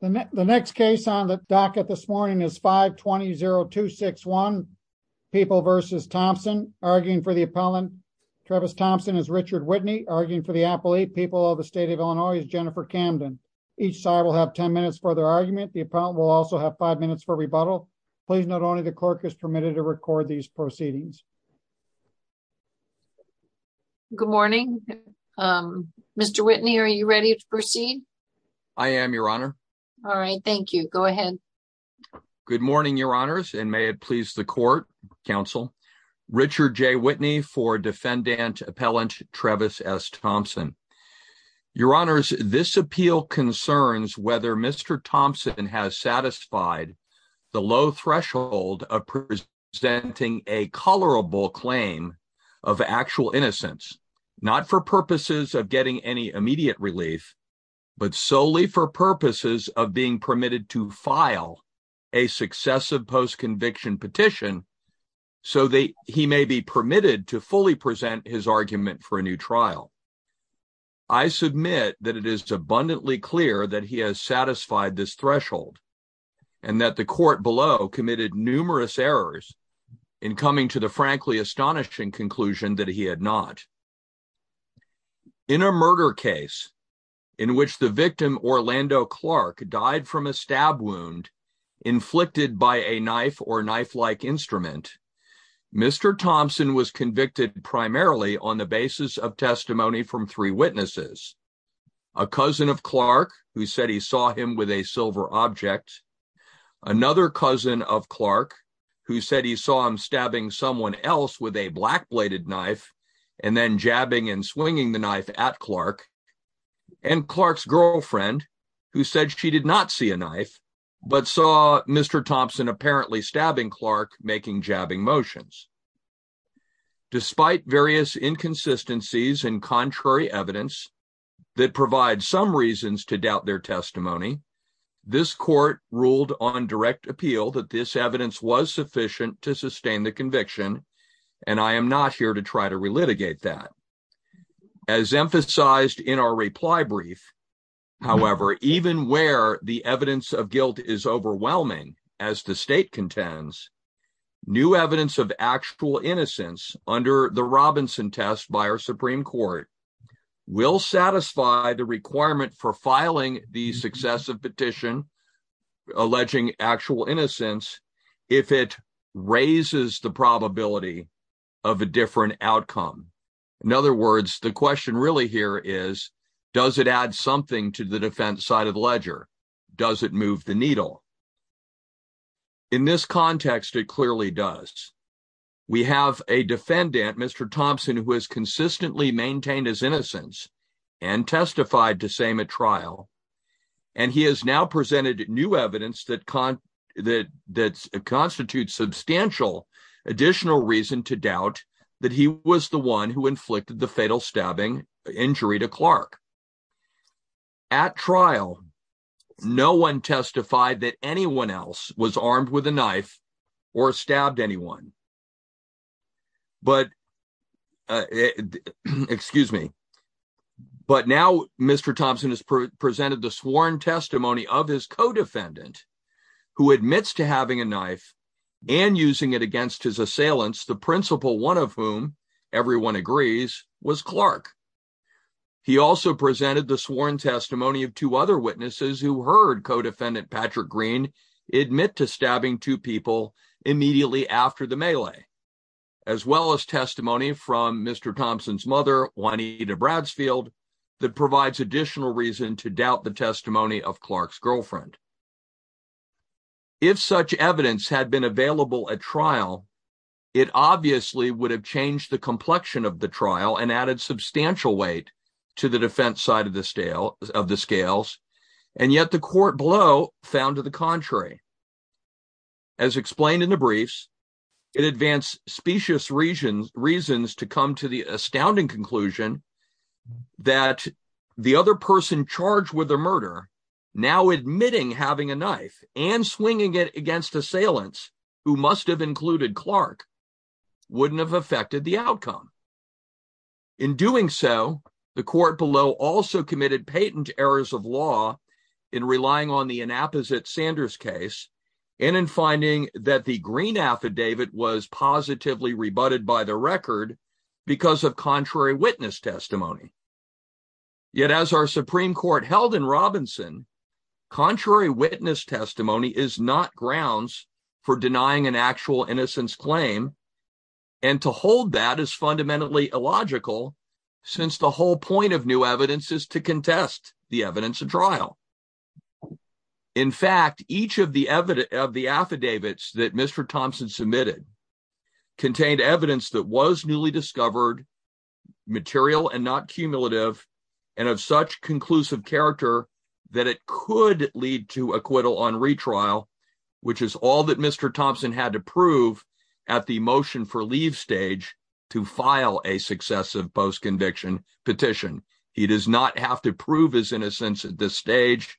the next case on the docket this morning is 520-261 people versus Thompson arguing for the appellant Travis Thompson is Richard Whitney arguing for the appellate people of the state of Illinois is Jennifer Camden each side will have 10 minutes for their argument the appellant will also have five minutes for rebuttal please note only the clerk is permitted to record these proceedings good morning um Mr. Whitney are you ready to proceed I am your honor all right thank you go ahead good morning your honors and may it please the court counsel Richard J Whitney for defendant appellant Travis S Thompson your honors this appeal concerns whether Mr. Thompson has satisfied the low threshold of presenting a colorable claim of actual innocence not for purposes of getting any immediate relief but solely for purposes of being permitted to file a successive post-conviction petition so they he may be permitted to fully present his argument for a new trial I submit that it is abundantly clear that he has satisfied this threshold and that the court below committed numerous errors in coming to the frankly astonishing conclusion that he had not in a murder case in which the victim Orlando Clark died from a stab wound inflicted by a knife or knife-like instrument Mr. Thompson was convicted primarily on the basis of testimony from three witnesses a cousin of Clark who said he saw him with a silver object another cousin of Clark who he saw him stabbing someone else with a black bladed knife and then jabbing and swinging the knife at Clark and Clark's girlfriend who said she did not see a knife but saw Mr. Thompson apparently stabbing Clark making jabbing motions despite various inconsistencies and contrary evidence that provide some reasons to doubt their testimony this court ruled on direct appeal that this evidence was sufficient to sustain the conviction and I am not here to try to relitigate that as emphasized in our reply brief however even where the evidence of guilt is overwhelming as the state contends new evidence of actual innocence under the Robinson test by our Supreme Court will satisfy the requirement for filing the successive petition alleging actual innocence if it raises the probability of a different outcome in other words the question really here is does it add something to the defense side of the ledger does it move the needle in this context it clearly does we have a defendant Mr. Thompson who has new evidence that constitutes substantial additional reason to doubt that he was the one who inflicted the fatal stabbing injury to Clark at trial no one testified that anyone else was armed with a knife or stabbed anyone but excuse me but now Mr. Thompson has presented the sworn testimony of his co-defendant who admits to having a knife and using it against his assailants the principal one of whom everyone agrees was Clark he also presented the sworn testimony of two other witnesses who heard co-defendant Patrick Green admit to stabbing two people immediately after the melee as well as testimony from Mr. Thompson's mother Juanita Bradsfield that provides additional reason to doubt the testimony of Clark's girlfriend if such evidence had been available at trial it obviously would have changed the complexion of the trial and added substantial weight to the defense side of the scale of the scales and yet the court blow found to the contrary as explained in the briefs it advanced specious reasons reasons to come to the astounding conclusion that the other person charged with the murder now admitting having a knife and swinging it against assailants who must have included Clark wouldn't have affected the outcome in doing so the court below also committed patent errors of law in relying on the inapposite Sanders case and in finding that the green affidavit was positively rebutted by the record because of contrary witness testimony yet as our supreme court held in Robinson contrary witness testimony is not grounds for denying an actual innocence claim and to hold that is fundamentally illogical since the whole point of new evidence is to contest the evidence of trial in fact each of the evidence of the affidavits that Mr. Thompson submitted contained evidence that was newly discovered material and not cumulative and of such conclusive character that it could lead to acquittal on retrial which is all that Mr. Thompson had to prove at the motion for leave stage to file a successive post-conviction petition he does not have to prove his innocence at this stage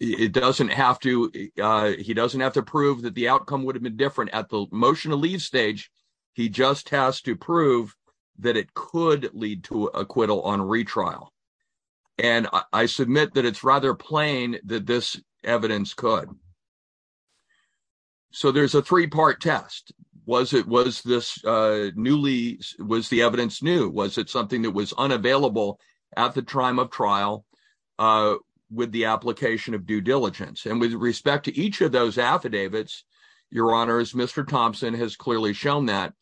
it doesn't have to uh he doesn't have to prove that the outcome would have been different at the motion to leave stage he just has to prove that it could lead to acquittal on retrial and I submit that it's rather plain that this evidence could so there's a three-part test was it was this uh newly was the evidence new was it something that was unavailable at the time of trial uh with the your honors Mr. Thompson has clearly shown that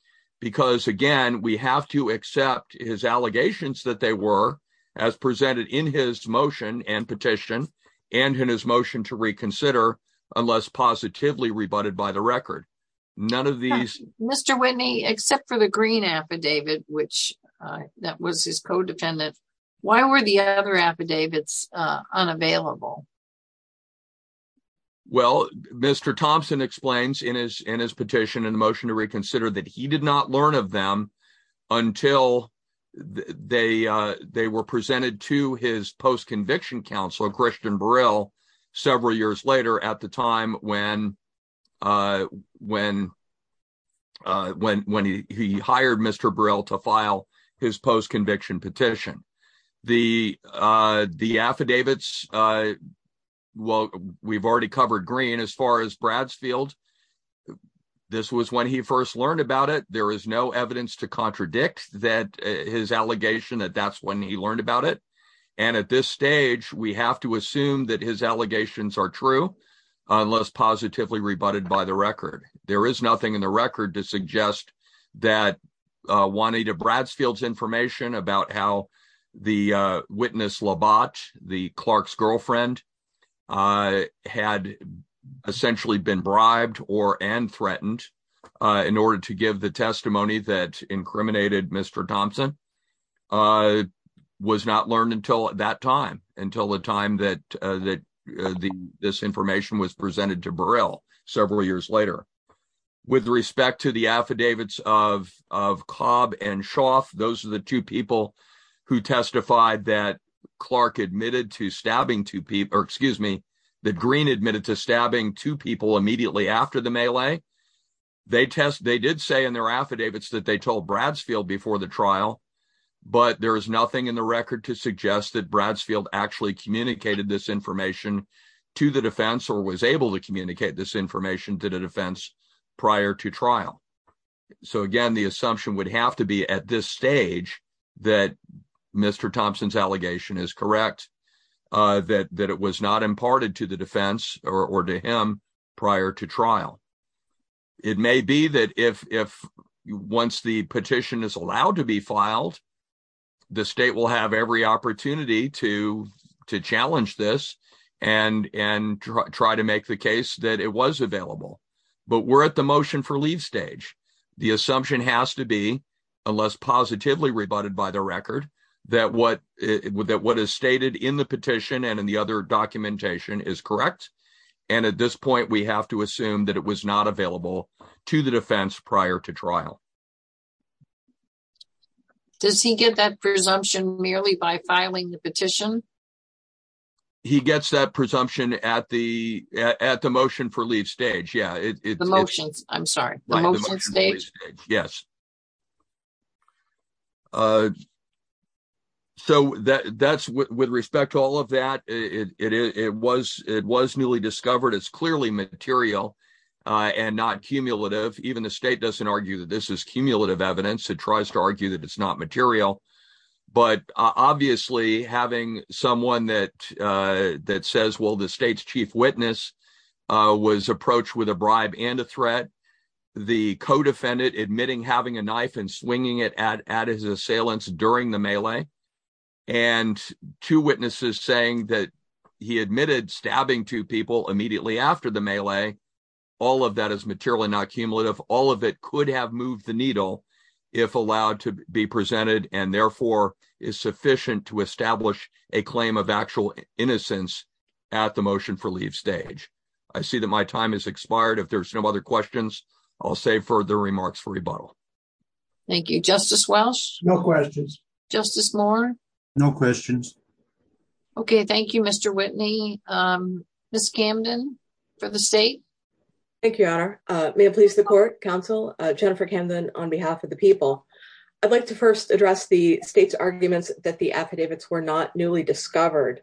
because again we have to accept his allegations that they were as presented in his motion and petition and in his motion to reconsider unless positively rebutted by the record none of these Mr. Whitney except for the green affidavit which that was his co-defendant why were the other affidavits uh unavailable well Mr. Thompson explains in his in his petition in the motion to reconsider that he did not learn of them until they uh they were presented to his post-conviction counsel Christian Burrell several years later at the time when uh when uh when when he he hired Mr. Burrell to file his post-conviction petition the uh the affidavits uh well we've already covered green as far as Bradsfield this was when he first learned about it there is no evidence to contradict that his allegation that that's when he learned about it and at this stage we have to assume that his allegations are true unless positively rebutted by the record there is nothing in the record to suggest that uh Juanita Bradsfield's information about how the uh witness Labat the Clark's girlfriend uh had essentially been bribed or and threatened uh in order to give the testimony that incriminated Mr. Thompson uh was not learned until at that time until the time that uh that the this information was presented to Burrell several years later with respect to the affidavits of of Cobb and Shoff those are the two people who testified that Clark admitted to stabbing two people or excuse me that Green admitted to stabbing two people immediately after the melee they test they did say in their affidavits that they told Bradsfield before the information to the defense or was able to communicate this information to the defense prior to trial so again the assumption would have to be at this stage that Mr. Thompson's allegation is correct uh that that it was not imparted to the defense or to him prior to trial it may be that if if once the petition is allowed to be filed the state will have every opportunity to to challenge this and and try to make the case that it was available but we're at the motion for leave stage the assumption has to be unless positively rebutted by the record that what that what is stated in the petition and in the other documentation is correct and at this point we have to assume that it was not available to the defense prior to trial does he get that presumption merely by filing the petition he gets that presumption at the at the motion for leave stage yeah it's the motions i'm sorry the motion stage yes uh so that that's with respect to all of that it it it was it was newly discovered it's clearly material uh and not cumulative even the state doesn't argue that this is cumulative evidence it tries to argue that it's not material but obviously having someone that uh that says well the state's chief witness uh was approached with a bribe and a threat the co-defendant admitting having a knife and swinging it at at his assailants during the melee and two witnesses saying that he admitted stabbing two people immediately after the melee all of that is materially not cumulative all of it could have moved the needle if allowed to be presented and therefore is sufficient to establish a claim of actual innocence at the motion for leave stage i see that my time has expired if there's no other questions i'll save further remarks for rebuttal thank you justice welsh no questions justice moore no questions okay thank you mr whitney um miss camden for the state thank you your honor uh may it please the court counsel uh jennifer camden on behalf of the people i'd like to first address the state's arguments that the affidavits were not newly discovered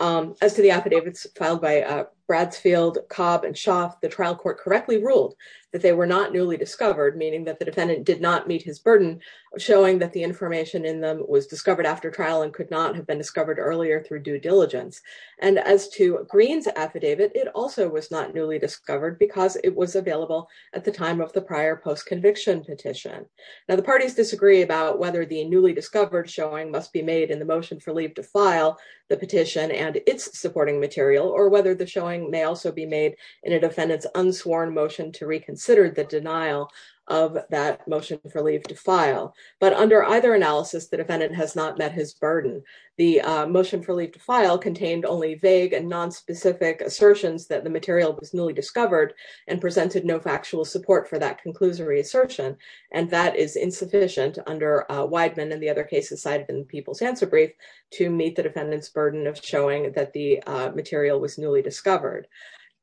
um as to the affidavits filed by uh bradsfield cobb and schaaf the trial court correctly ruled that they were not newly discovered meaning that the defendant did not meet his burden showing that the information in them was discovered after trial and could not have been discovered earlier through due diligence and as to green's affidavit it also was not newly discovered because it was available at the time of the prior post-conviction petition now the parties disagree about whether the newly discovered showing must be made in the motion for leave to file the petition and its supporting material or whether the showing may also be made in a defendant's unsworn motion to reconsider the denial of that motion for leave to file but under either analysis the defendant has not met his burden the motion for leave to file contained only vague and non-specific assertions that the material was newly discovered and presented no factual support for that conclusory assertion and that is insufficient under weidman and the other cases cited in people's answer brief to meet the defendant's burden of showing that the material was newly discovered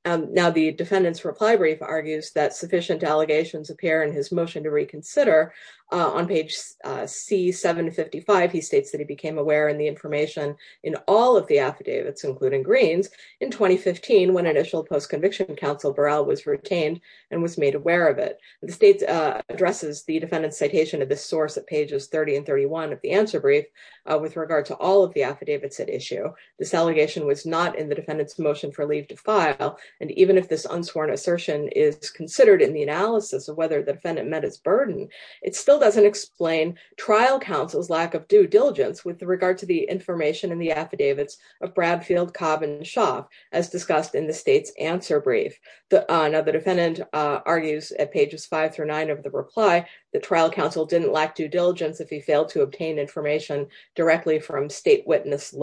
now the defendant's reply brief argues that sufficient allegations appear in his motion to reconsider on page c 755 he states that he became aware in the information in all of the affidavits including greens in 2015 when initial post-conviction council burrell was retained and was made aware of it the state addresses the defendant's citation of this source at pages 30 and 31 of the answer brief with regard to all of the affidavits at issue this motion for leave to file and even if this unsworn assertion is considered in the analysis of whether the defendant met his burden it still doesn't explain trial counsel's lack of due diligence with regard to the information in the affidavits of bradfield cobb and shock as discussed in the state's answer brief the another defendant argues at pages five through nine of the reply the trial counsel didn't lack due diligence if he failed to obtain information directly from state witness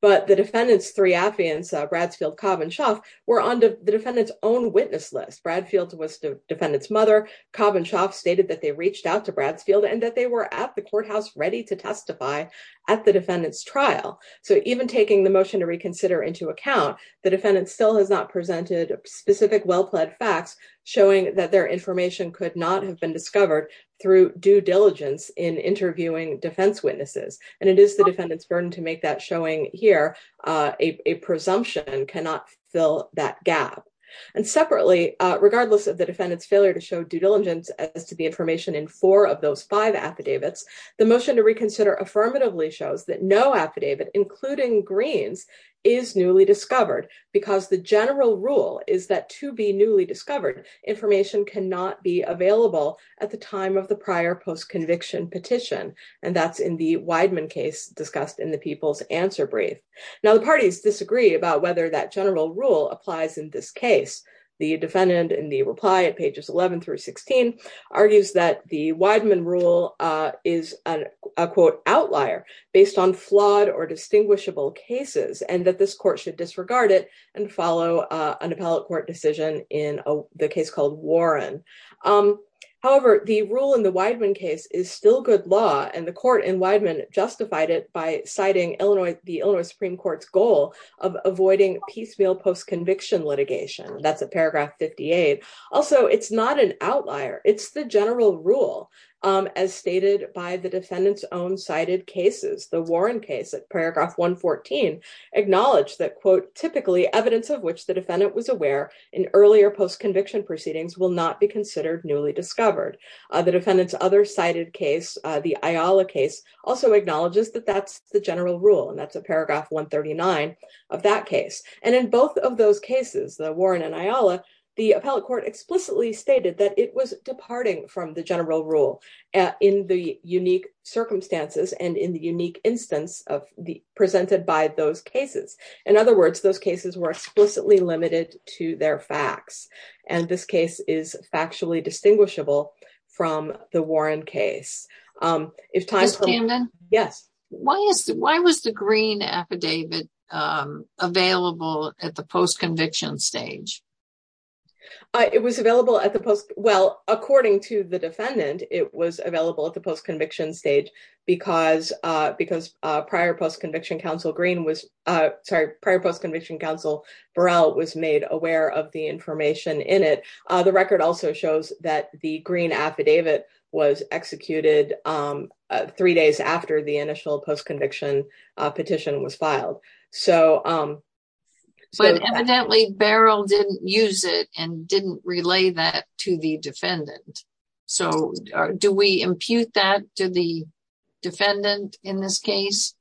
but the defendant's three affidavits bradsfield cobb and shock were on the defendant's own witness list bradfield was the defendant's mother cobb and shock stated that they reached out to bradsfield and that they were at the courthouse ready to testify at the defendant's trial so even taking the motion to reconsider into account the defendant still has not presented specific well-pled facts showing that their information could not have been discovered through due diligence and the defendant's burden to make that showing here a presumption cannot fill that gap and separately regardless of the defendant's failure to show due diligence as to the information in four of those five affidavits the motion to reconsider affirmatively shows that no affidavit including greens is newly discovered because the general rule is that to be newly discovered information cannot be available at the time of the prior post-conviction petition and that's in the people's answer brief now the parties disagree about whether that general rule applies in this case the defendant in the reply at pages 11 through 16 argues that the weidman rule is a quote outlier based on flawed or distinguishable cases and that this court should disregard it and follow an appellate court decision in the case called warren however the rule in the case is still good law and the court in weidman justified it by citing illinois the illinois supreme court's goal of avoiding piecemeal post-conviction litigation that's at paragraph 58 also it's not an outlier it's the general rule as stated by the defendant's own cited cases the warren case at paragraph 114 acknowledged that quote typically evidence of which the defendant was aware in earlier post-conviction proceedings will not be considered newly discovered the defendant's other cited case the iola case also acknowledges that that's the general rule and that's a paragraph 139 of that case and in both of those cases the warren and iola the appellate court explicitly stated that it was departing from the general rule in the unique circumstances and in the unique instance of the presented by those cases in other words those cases were factually distinguishable from the warren case um if time came then yes why is why was the green affidavit um available at the post-conviction stage uh it was available at the post well according to the defendant it was available at the post-conviction stage because uh because uh prior post-conviction counsel green was uh sorry prior post-conviction counsel burrell was made aware of the information in it uh the record also shows that the green affidavit was executed um three days after the initial post-conviction petition was filed so um but evidently barrel didn't use it and didn't relay that to the defendant so do we impute that to the defendant in this case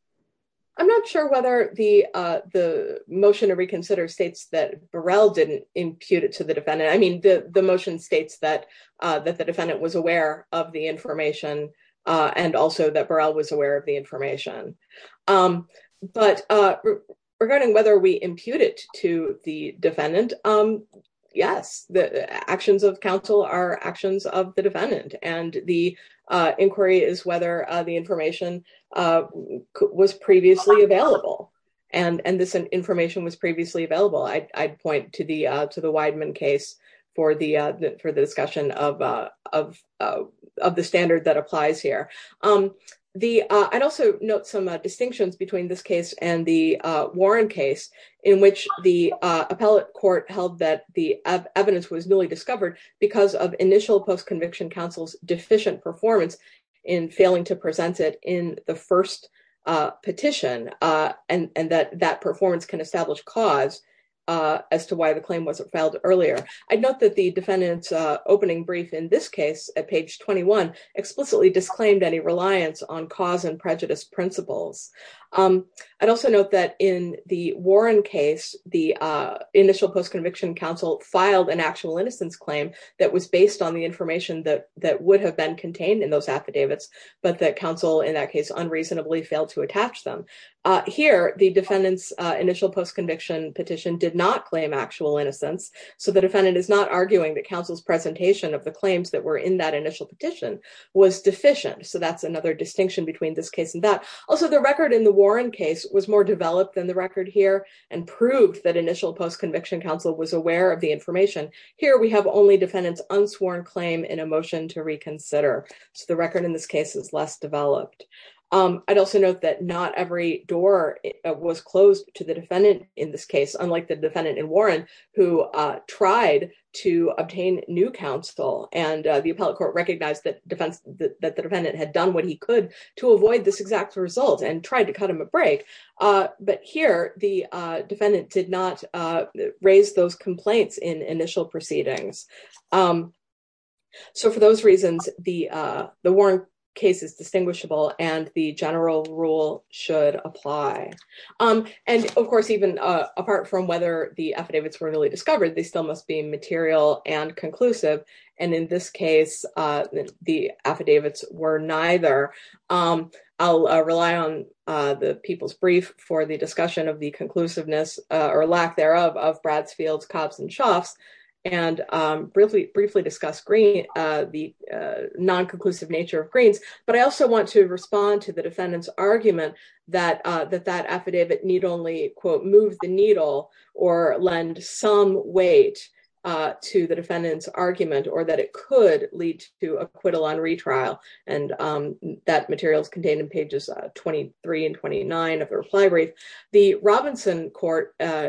i'm not sure whether the uh the motion to reconsider states that burrell didn't impute it to the defendant i mean the the motion states that uh that the defendant was aware of the information uh and also that burrell was aware of the information um but uh regarding whether we impute it to the defendant um yes the actions of counsel are actions of the defendant and the uh inquiry is whether uh the information uh was previously available and and this information was previously available i'd point to the uh to the weidman case for the uh for the discussion of uh of of the standard that applies here um the uh i'd also note some distinctions between this case and the uh warren case in which the uh appellate court held that the evidence was newly discovered because of initial post-conviction counsel's deficient performance in failing to present it in the first uh petition uh and and that that performance can establish cause uh as to why the claim wasn't filed earlier i'd note that the defendant's uh opening brief in this case at page 21 explicitly disclaimed any reliance on cause and prejudice principles um i'd also note that in the warren case the uh initial post-conviction counsel filed an actual innocence claim that was based on the information that that would have been contained in those affidavits but that counsel in that case unreasonably failed to attach them uh here the defendant's uh initial post-conviction petition did not claim actual innocence so the defendant is not arguing that counsel's presentation of the claims that were in that initial petition was deficient so that's another distinction between this case and that also the record in the warren case was more developed than the record here and proved that initial post-conviction counsel was aware of the information here we have only defendant's unsworn claim in a motion to reconsider so the record in this case is less developed um i'd also note that not every door was closed to the defendant in this case unlike the defendant in warren who uh tried to obtain new counsel and the appellate court recognized that defense that the defendant had done what he could to avoid this exact result and tried to cut him a break uh but here the uh defendant did raise those complaints in initial proceedings um so for those reasons the uh the warren case is distinguishable and the general rule should apply um and of course even uh apart from whether the affidavits were really discovered they still must be material and conclusive and in this case uh the affidavits were neither um i'll rely on uh the people's brief for the discussion of the conclusiveness uh or lack thereof of bradsfields cobs and shofts and um briefly briefly discuss green uh the uh non-conclusive nature of greens but i also want to respond to the defendant's argument that uh that that affidavit need only quote move the needle or lend some weight uh to the defendant's argument or that it could lead to acquittal on retrial and um that material is court uh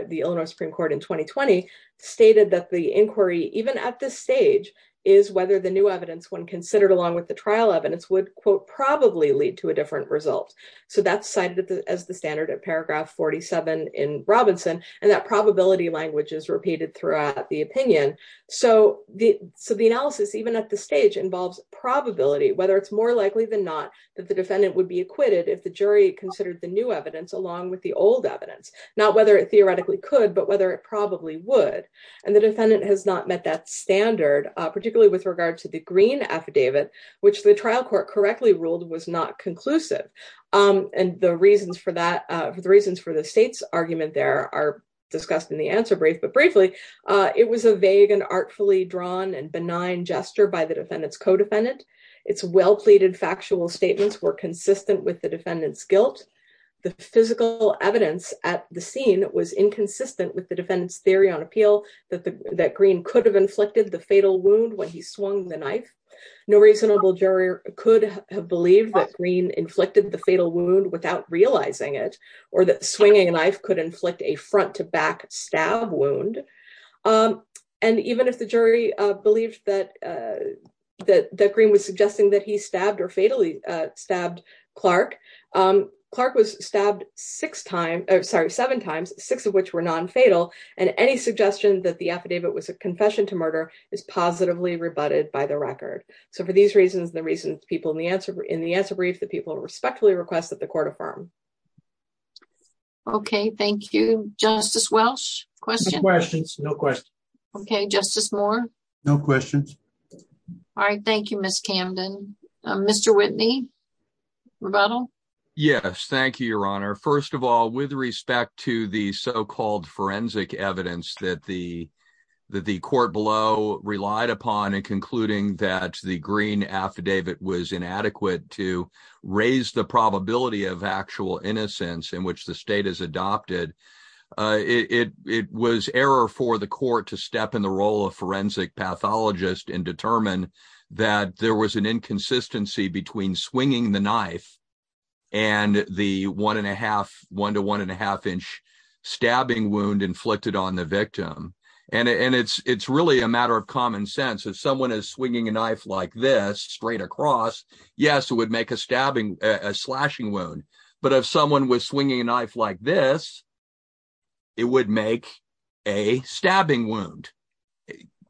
the illinois supreme court in 2020 stated that the inquiry even at this stage is whether the new evidence when considered along with the trial evidence would quote probably lead to a different result so that's cited as the standard of paragraph 47 in robinson and that probability language is repeated throughout the opinion so the so the analysis even at the stage involves probability whether it's more likely than not that the defendant would be acquitted if the whether it theoretically could but whether it probably would and the defendant has not met that standard uh particularly with regard to the green affidavit which the trial court correctly ruled was not conclusive um and the reasons for that uh the reasons for the state's argument there are discussed in the answer brief but briefly uh it was a vague and artfully drawn and benign gesture by the defendant's co-defendant its well-pleaded factual statements were consistent with the was inconsistent with the defendant's theory on appeal that the that green could have inflicted the fatal wound when he swung the knife no reasonable jury could have believed that green inflicted the fatal wound without realizing it or that swinging a knife could inflict a front to back stab wound um and even if the jury uh believed that uh that that green was suggesting that he six of which were non-fatal and any suggestion that the affidavit was a confession to murder is positively rebutted by the record so for these reasons the reasons people in the answer in the answer brief that people respectfully request that the court affirm okay thank you justice welsh questions no questions okay justice moore no questions all right thank you miss camden mr whitney rebuttal yes thank you your honor first of all with respect to the so-called forensic evidence that the that the court below relied upon in concluding that the green affidavit was inadequate to raise the probability of actual innocence in which the state has adopted uh it it was error for the court to step in the role of forensic pathologist and determine that there was an inconsistency between swinging the knife and the one and a half one to one and a half inch stabbing wound inflicted on the victim and and it's it's really a matter of common sense if someone is swinging a knife like this straight across yes it would make a stabbing a slashing wound but if someone was swinging a knife like this it would make a stabbing wound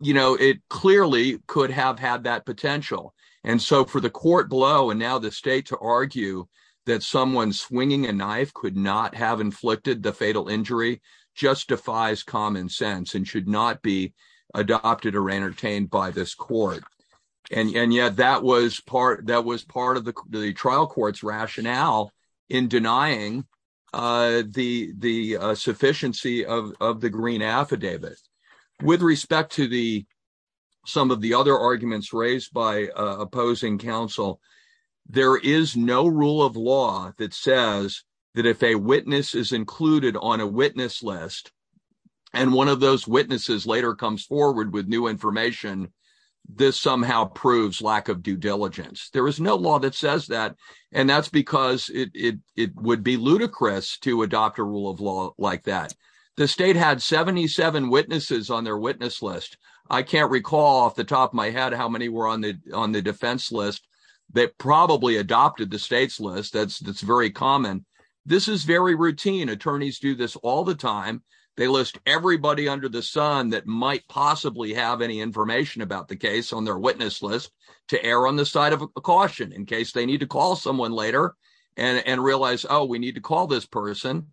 you know it clearly could have had that potential and so for the court below and now the state to argue that someone swinging a knife could not have inflicted the fatal injury justifies common sense and should not be adopted or entertained by this and and yet that was part that was part of the the trial court's rationale in denying uh the the sufficiency of of the green affidavit with respect to the some of the other arguments raised by opposing counsel there is no rule of law that says that if a witness is included on a witness list and one of those witnesses later comes forward with new information this somehow proves lack of due diligence there is no law that says that and that's because it it it would be ludicrous to adopt a rule of law like that the state had 77 witnesses on their witness list i can't recall off the top of my head how many were on the on the defense list that probably adopted the state's that's very common this is very routine attorneys do this all the time they list everybody under the sun that might possibly have any information about the case on their witness list to err on the side of a caution in case they need to call someone later and and realize oh we need to call this person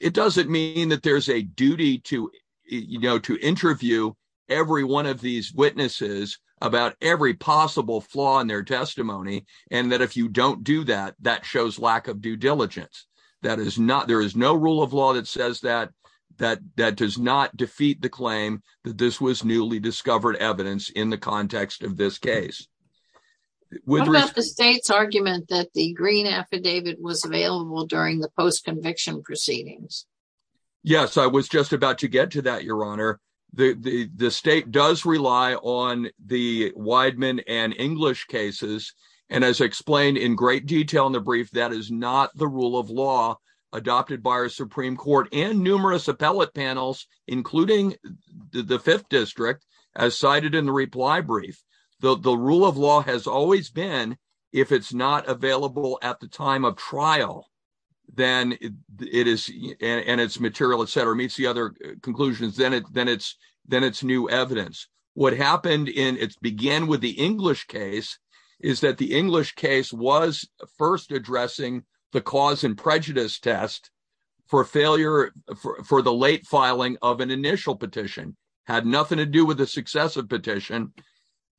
it doesn't mean that there's a duty to you know to interview every one of these witnesses about every possible flaw in their testimony and that if you don't do that that shows lack of due diligence that is not there is no rule of law that says that that that does not defeat the claim that this was newly discovered evidence in the context of this case what about the state's argument that the green affidavit was available during the post-conviction proceedings yes i was about to get to that your honor the the state does rely on the weidman and english cases and as explained in great detail in the brief that is not the rule of law adopted by our supreme court and numerous appellate panels including the fifth district as cited in the reply brief the the rule of law has always been if it's not available at the time of trial then it is and its material etc meets the other conclusions then it then it's then it's new evidence what happened in its began with the english case is that the english case was first addressing the cause and prejudice test for failure for the late filing of an initial petition had nothing to do with the successive petition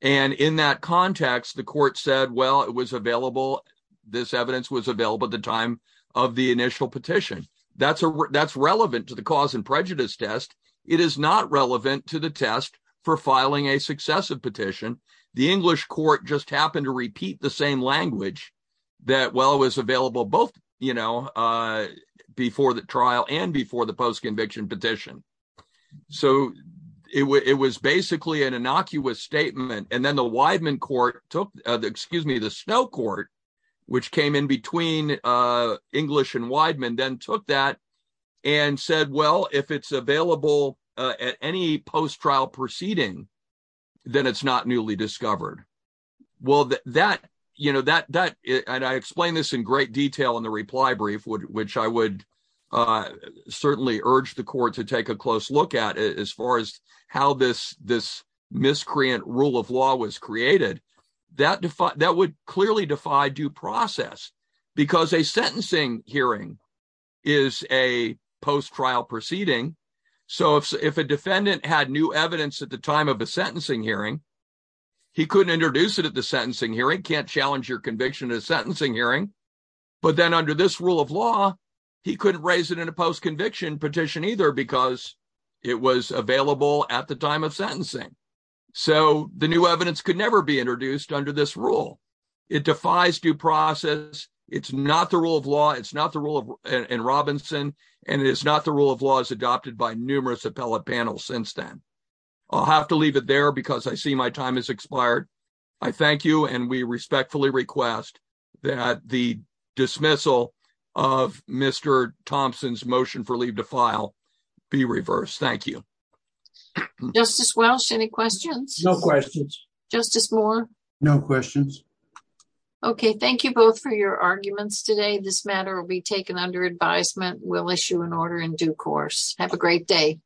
and in that context the court said well it was available this evidence was available at the time of the initial petition that's a that's relevant to the cause and prejudice test it is not relevant to the test for filing a successive petition the english court just happened to repeat the same language that well it was available both you know uh before the trial and before the post-conviction petition so it was basically an innocuous statement and then the weidman court took excuse me the snow court which came in between uh english and weidman then took that and said well if it's available at any post-trial proceeding then it's not newly discovered well that you know that that and i explained this in great detail in the reply brief which i would uh certainly urge the court to take a close look at it as far as how this this miscreant rule of law was created that defied that would clearly defy due process because a sentencing hearing is a post-trial proceeding so if if a defendant had new evidence at the time of a sentencing hearing he couldn't introduce it at the sentencing hearing can't challenge your conviction at a sentencing hearing but then under this rule of law he couldn't raise it in a post-conviction petition either because it was available at the time of sentencing so the new evidence could never be introduced under this rule it defies due process it's not the rule of law it's not the rule of and robinson and it is not the rule of law is adopted by numerous appellate panels since then i'll have to leave it there because i see my time has expired i thank you and we respectfully request that the dismissal of mr thompson's motion for leave to file be reversed thank you justice welsh any questions no questions justice moore no questions okay thank you both for your arguments today this matter will be taken under advisement we'll issue an order in due course have a great day